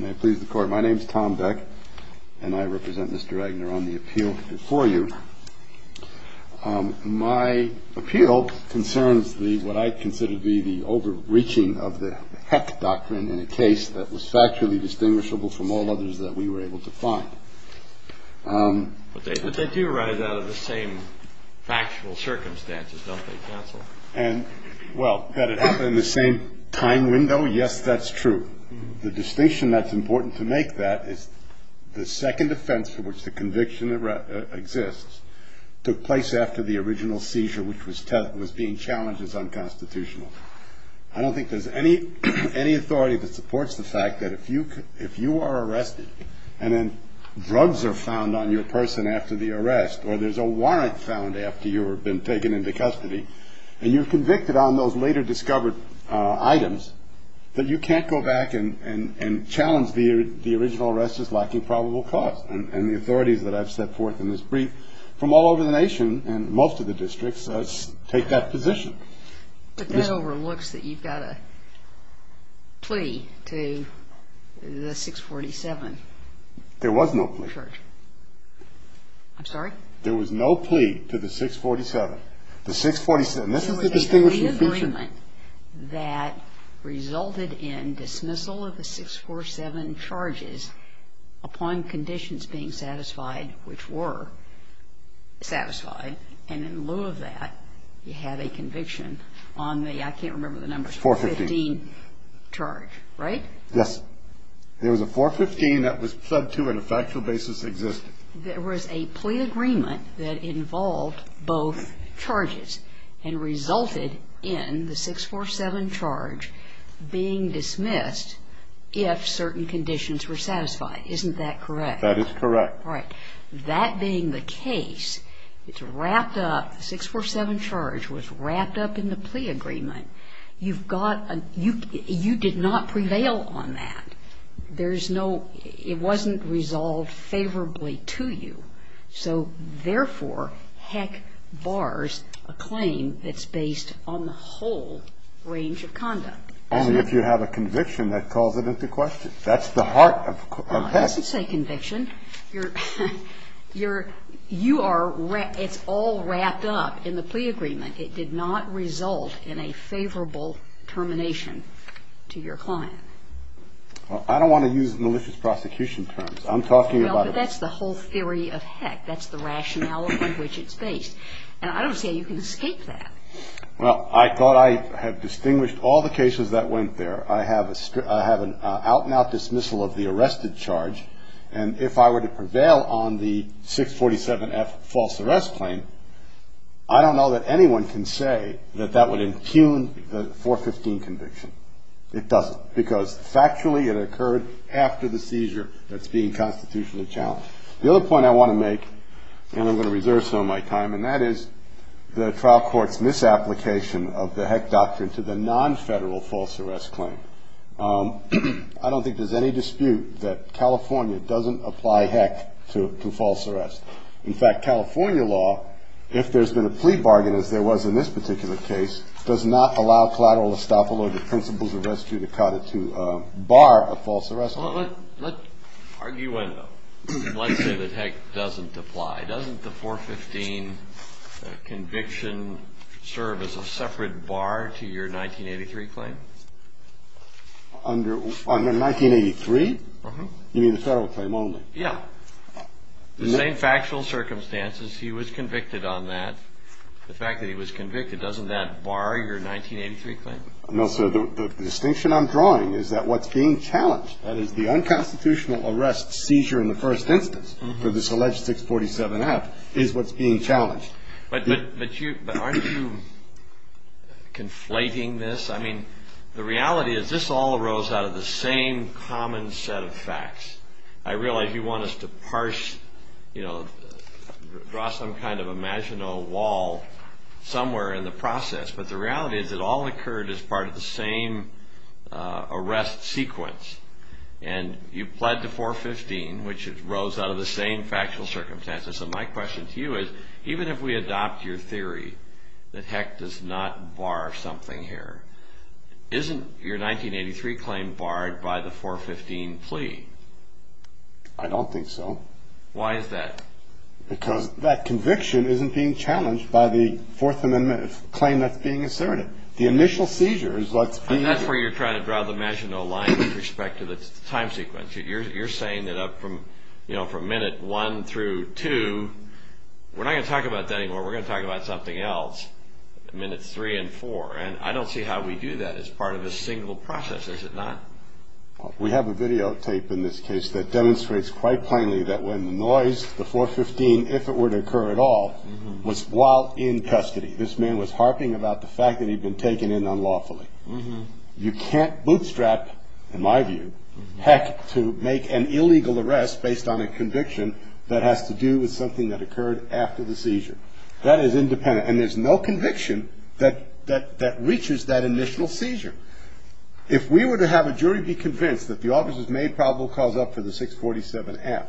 My name is Tom Beck and I represent Mr. Agner on the appeal before you. My appeal concerns what I consider to be the overreaching of the heck doctrine in a case that was factually distinguishable from all others that we were able to find. But they do arise out of the same factual circumstances, don't they, counsel? Well, that it happened in the same time window, yes, that's true. The distinction that's important to make that is the second offense for which the conviction exists took place after the original seizure, which was being challenged as unconstitutional. I don't think there's any authority that supports the fact that if you are arrested and then drugs are found on your person after the arrest, or there's a warrant found after you've been taken into custody, and you're convicted on those later discovered items, then you can't go back and challenge the original arrest as lacking probable cause. And the authorities that I've set forth in this brief from all over the nation and most of the districts take that position. But that overlooks that you've got a plea to the 647 church. There was no plea. I'm sorry? There was no plea to the 647. The 647. This is the distinguishing feature. There was a plea agreement that resulted in dismissal of the 647 charges upon conditions being satisfied, which were satisfied. And in lieu of that, you have a conviction on the, I can't remember the number, 415 charge, right? Yes. There was a 415 that was sub 2 and a factual basis existed. There was a plea agreement that involved both charges and resulted in the 647 charge being dismissed if certain conditions were satisfied. Isn't that correct? That is correct. Right. That being the case, it's wrapped up, the 647 charge was wrapped up in the plea agreement. You've got a, you did not prevail on that. There's no, it wasn't resolved favorably to you. So therefore, Heck bars a claim that's based on the whole range of conduct. Only if you have a conviction that calls it into question. That's the heart of Heck. It doesn't say conviction. You're, you're, you are, it's all wrapped up in the plea agreement. It did not result in a favorable termination to your client. Well, I don't want to use malicious prosecution terms. I'm talking about. Well, but that's the whole theory of Heck. That's the rationale on which it's based. And I don't see how you can escape that. Well, I thought I had distinguished all the cases that went there. I have a, I have an out and out dismissal of the arrested charge. And if I were to prevail on the 647F false arrest claim, I don't know that anyone can say that that would impugn the 415 conviction. It doesn't. Because factually it occurred after the seizure that's being constitutionally challenged. The other point I want to make, and I'm going to reserve some of my time, and that is the trial court's misapplication of the Heck doctrine to the non-federal false arrest claim. I don't think there's any dispute that California doesn't apply Heck to false arrest. In fact, California law, if there's been a plea bargain, as there was in this particular case, does not allow collateral estoppel or the principles of rescue to cut it to a bar of false arrest. Let's argue one, though. Let's say that Heck doesn't apply. Doesn't the 415 conviction serve as a separate bar to your 1983 claim? Under 1983? You mean the federal claim only? Yeah. The same factual circumstances, he was convicted on that. The fact that he was convicted, doesn't that bar your 1983 claim? No, sir. The distinction I'm drawing is that what's being challenged, that is the unconstitutional arrest seizure in the first instance for this alleged 647-F, is what's being challenged. But aren't you conflating this? I mean, the reality is this all arose out of the same common set of facts. I realize you want us to parse, you know, draw some kind of imaginal wall somewhere in the process, but the reality is it all occurred as part of the same arrest sequence. And you pled to 415, which arose out of the same factual circumstances. So my question to you is, even if we adopt your theory that Heck does not bar something here, isn't your 1983 claim barred by the 415 plea? I don't think so. Why is that? Because that conviction isn't being challenged by the Fourth Amendment claim that's being asserted. The initial seizure is what's being asserted. And that's where you're trying to draw the imaginal line with respect to the time sequence. You're saying that from minute one through two, we're not going to talk about that anymore. We're going to talk about something else, minutes three and four. And I don't see how we do that as part of a single process, is it not? We have a videotape in this case that demonstrates quite plainly that when the noise, the 415, if it were to occur at all, was while in custody. This man was harping about the fact that he'd been taken in unlawfully. You can't bootstrap, in my view, Heck to make an illegal arrest based on a conviction that has to do with something that occurred after the seizure. That is independent. And there's no conviction that reaches that initial seizure. If we were to have a jury be convinced that the officers made probable cause up for the 647F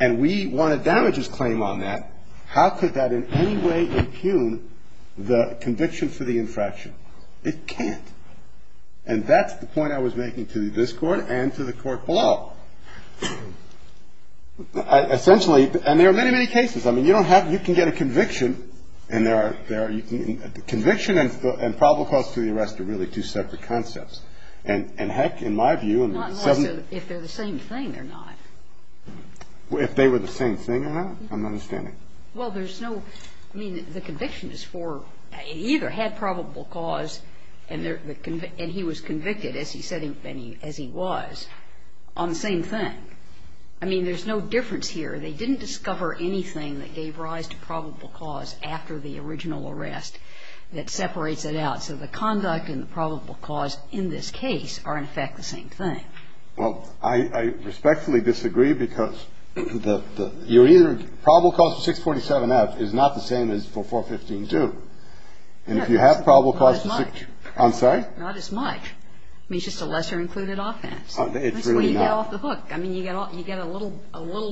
and we won a damages claim on that, how could that in any way impugn the conviction for the infraction? It can't. And that's the point I was making to this Court and to the Court below. Essentially, and there are many, many cases. I mean, you don't have, you can get a conviction and there are, you can, conviction and probable cause for the arrest are really two separate concepts. And Heck, in my view, in the 7th. Not in my view. If they're the same thing, they're not. If they were the same thing, they're not. I'm not understanding. Well, there's no, I mean, the conviction is for, he either had probable cause and he was convicted as he said he was. I mean, there's no difference here. They didn't discover anything that gave rise to probable cause after the original arrest that separates it out. So the conduct and the probable cause in this case are, in fact, the same thing. Well, I respectfully disagree because you're either probable cause for 647F is not the same as for 4152. And if you have probable cause for 647F. Not as much. I'm sorry? Not as much. I mean, it's just a lesser included offense. That's where you get off the hook. I mean, you get a little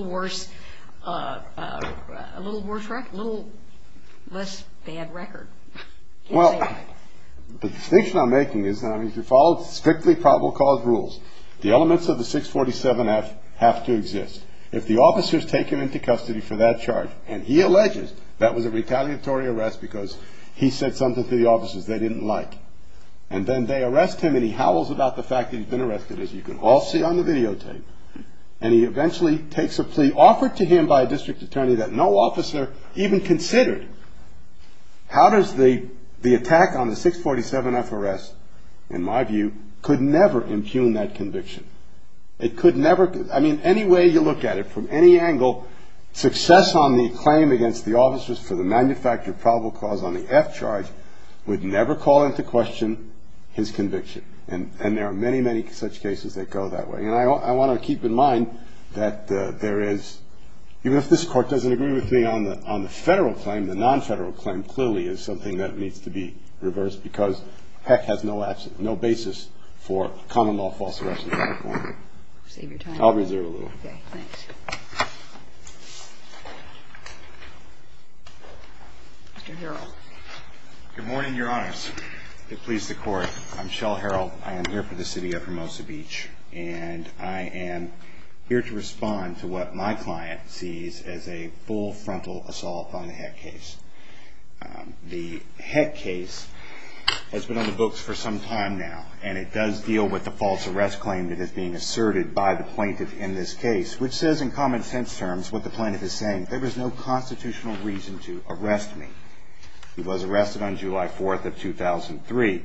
worse record, a little less bad record. Well, the distinction I'm making is that if you follow strictly probable cause rules, the elements of the 647F have to exist. If the officer is taken into custody for that charge, and he alleges that was a retaliatory arrest because he said something to the officers they didn't like, and then they arrest him and he howls about the fact that he's been arrested, as you can all see on the videotape, and he eventually takes a plea offered to him by a district attorney that no officer even considered, how does the attack on the 647F arrest, in my view, could never impugn that conviction? It could never – I mean, any way you look at it, from any angle, success on the claim against the officers for the manufactured probable cause on the F charge would never call into question his conviction. And there are many, many such cases that go that way. And I want to keep in mind that there is – even if this Court doesn't agree with me on the federal claim, the non-federal claim clearly is something that needs to be reversed because HECC has no basis for common law false arrest in California. Save your time. I'll reserve a little. Okay, thanks. Mr. Harrell. Good morning, Your Honors. It pleases the Court. I'm Shell Harrell. I am here for the city of Hermosa Beach, and I am here to respond to what my client sees as a full frontal assault on the HECC case. The HECC case has been on the books for some time now, and it does deal with the false arrest claim that is being asserted by the plaintiff in this case, which says in common sense terms what the plaintiff is saying. There is no constitutional reason to arrest me. He was arrested on July 4th of 2003,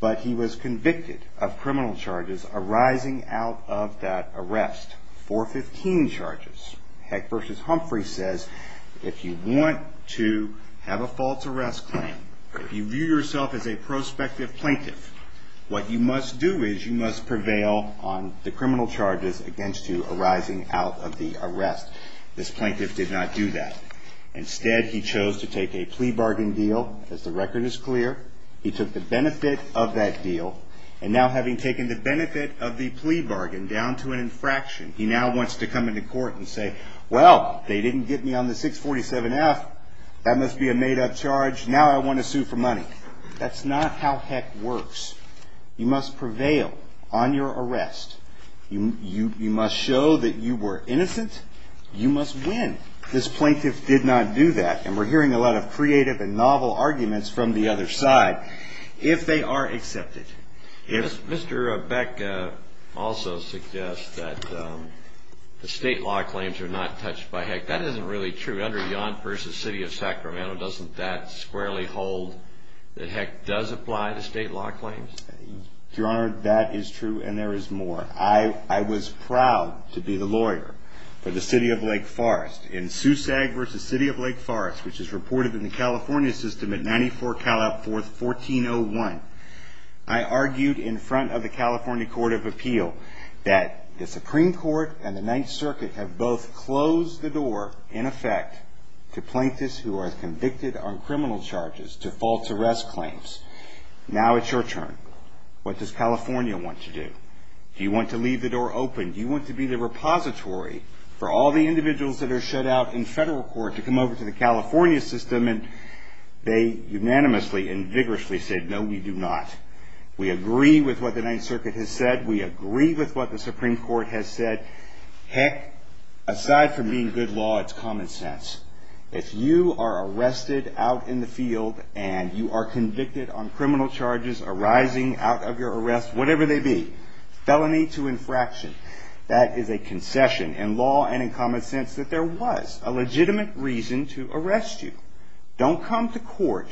but he was convicted of criminal charges arising out of that arrest, 415 charges. HECC v. Humphrey says if you want to have a false arrest claim, if you view yourself as a prospective plaintiff, what you must do is you must prevail on the criminal charges against you arising out of the arrest. This plaintiff did not do that. Instead, he chose to take a plea bargain deal. As the record is clear, he took the benefit of that deal, and now having taken the benefit of the plea bargain down to an infraction, he now wants to come into court and say, well, they didn't get me on the 647F. That must be a made-up charge. Now I want to sue for money. That's not how HECC works. You must prevail on your arrest. You must show that you were innocent. You must win. This plaintiff did not do that, and we're hearing a lot of creative and novel arguments from the other side if they are accepted. Mr. Beck also suggests that the state law claims are not touched by HECC. That isn't really true. Your Honor, beyond versus City of Sacramento, doesn't that squarely hold that HECC does apply to state law claims? Your Honor, that is true, and there is more. I was proud to be the lawyer for the City of Lake Forest. In SUSAG versus City of Lake Forest, which is reported in the California system at 94 Cal Up 4th, 1401, I argued in front of the California Court of Appeal that the Supreme Court and the Ninth Circuit have both closed the door, in effect, to plaintiffs who are convicted on criminal charges to false arrest claims. Now it's your turn. What does California want to do? Do you want to leave the door open? Do you want to be the repository for all the individuals that are shut out in federal court to come over to the California system? And they unanimously and vigorously said, no, we do not. We agree with what the Ninth Circuit has said. We agree with what the Supreme Court has said. HECC, aside from being good law, it's common sense. If you are arrested out in the field and you are convicted on criminal charges arising out of your arrest, whatever they be, felony to infraction, that is a concession in law and in common sense that there was a legitimate reason to arrest you. Don't come to court,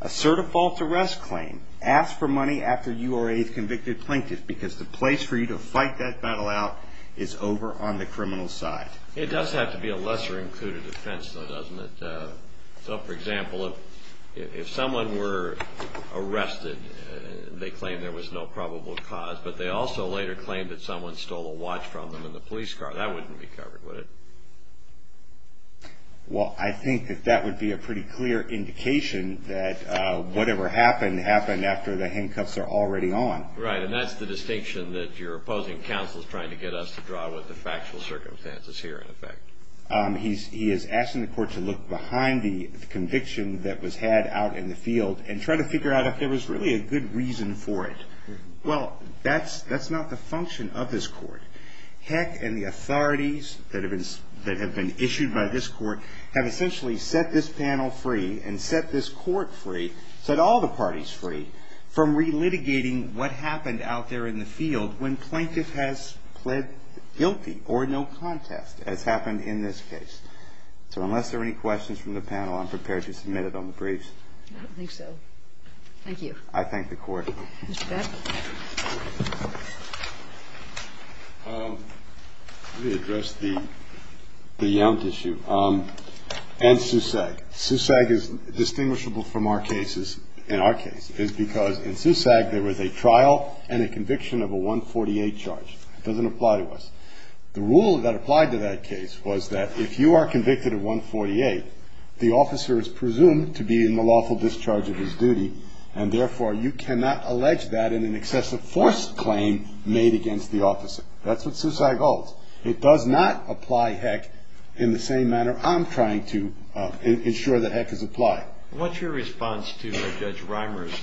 assert a false arrest claim, and ask for money after you are a convicted plaintiff because the place for you to fight that battle out is over on the criminal side. It does have to be a lesser-included offense, though, doesn't it? So, for example, if someone were arrested, they claimed there was no probable cause, but they also later claimed that someone stole a watch from them in the police car. That wouldn't be covered, would it? Well, I think that that would be a pretty clear indication that whatever happened happened after the handcuffs are already on. Right, and that's the distinction that your opposing counsel is trying to get us to draw with the factual circumstances here, in effect. He is asking the court to look behind the conviction that was had out in the field and try to figure out if there was really a good reason for it. Well, that's not the function of this court. HECC and the authorities that have been issued by this court have essentially set this panel free and set this court free, set all the parties free, from relitigating what happened out there in the field when plaintiff has pled guilty or no contest, as happened in this case. So unless there are any questions from the panel, I'm prepared to submit it on the briefs. I don't think so. Thank you. I thank the court. Mr. Beck? Let me address the Yount issue and SUSAG. SUSAG is distinguishable from our cases, in our case, is because in SUSAG there was a trial and a conviction of a 148 charge. It doesn't apply to us. The rule that applied to that case was that if you are convicted of 148, the officer is presumed to be in the lawful discharge of his duty, and therefore you cannot allege that in an excessive force claim made against the officer. That's what SUSAG holds. It does not apply HECC in the same manner I'm trying to ensure that HECC is applied. What's your response to Judge Reimer's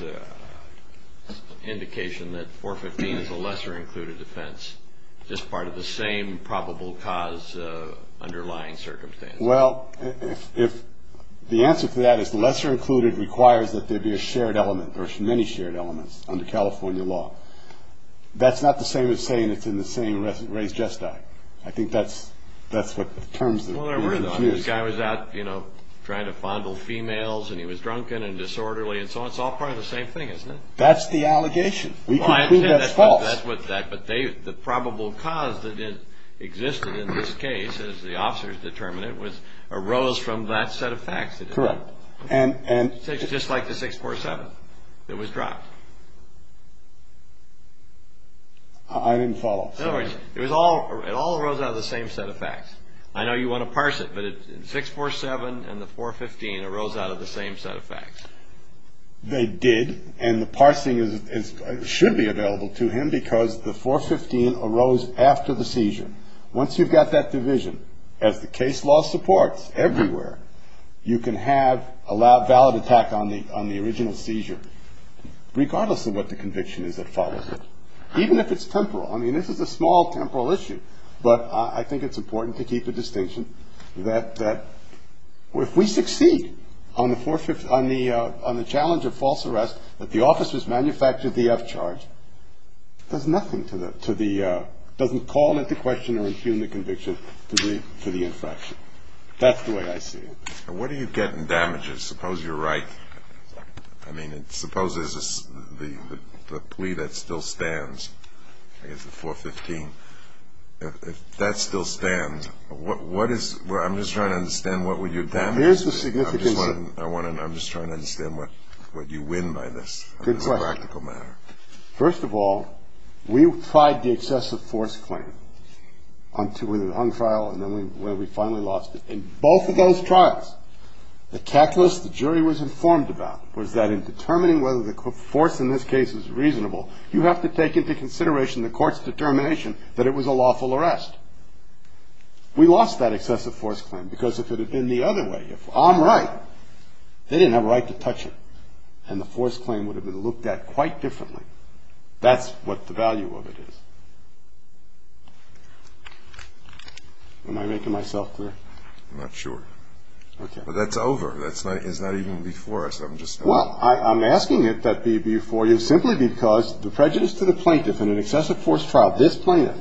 indication that 415 is a lesser-included offense, just part of the same probable cause underlying circumstances? Well, if the answer to that is lesser-included requires that there be a shared element or many shared elements under California law, that's not the same as saying it's in the same race just act. I think that's what the terms of the argument is. Well, there were, though. This guy was out trying to fondle females, and he was drunken and disorderly, and so on. It's all part of the same thing, isn't it? That's the allegation. We conclude that's false. But the probable cause that existed in this case, as the officers determined it, arose from that set of facts. Correct. Just like the 647 that was dropped. I didn't follow. It all arose out of the same set of facts. I know you want to parse it, but 647 and the 415 arose out of the same set of facts. They did, and the parsing should be available to him because the 415 arose after the seizure. Once you've got that division, as the case law supports everywhere, you can have a valid attack on the original seizure, regardless of what the conviction is that follows it, even if it's temporal. I mean, this is a small temporal issue, but I think it's important to keep the distinction that if we succeed on the challenge of false arrest, that the officers manufactured the F charge, it doesn't call into question or impugn the conviction to the infraction. That's the way I see it. What do you get in damages? Suppose you're right. I mean, suppose there's a plea that still stands. I guess the 415. If that still stands, what is – I'm just trying to understand what would your damages be. I'm just trying to understand what you win by this. Good question. On a practical matter. First of all, we tried the excessive force claim on trial, and then we finally lost it. In both of those trials, the calculus the jury was informed about was that in determining whether the force in this case is reasonable, you have to take into consideration the court's determination that it was a lawful arrest. We lost that excessive force claim because if it had been the other way, if I'm right, they didn't have a right to touch it, and the force claim would have been looked at quite differently. That's what the value of it is. Am I making myself clear? I'm not sure. Okay. But that's over. It's not even before us. Well, I'm asking it that be before you simply because the prejudice to the plaintiff in an excessive force trial, this plaintiff,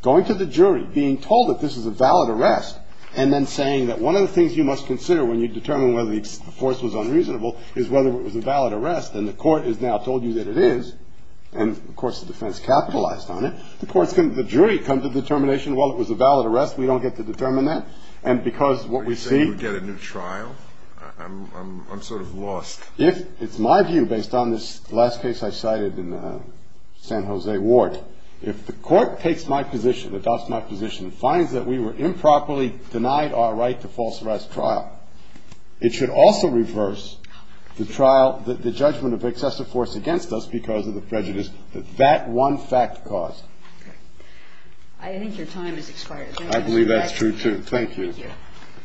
going to the jury, being told that this is a valid arrest, and then saying that one of the things you must consider when you determine whether the force was unreasonable is whether it was a valid arrest, and the court has now told you that it is, and of course the defense capitalized on it. The jury comes to the determination, well, it was a valid arrest. We don't get to determine that. And because what we see – Are you saying we get a new trial? I'm sort of lost. It's my view, based on this last case I cited in San Jose Ward, if the court takes my position, adopts my position, finds that we were improperly denied our right to false arrest trial, it should also reverse the trial, the judgment of excessive force against us because of the prejudice that that one fact caused. I think your time has expired. Thank you. Thank you.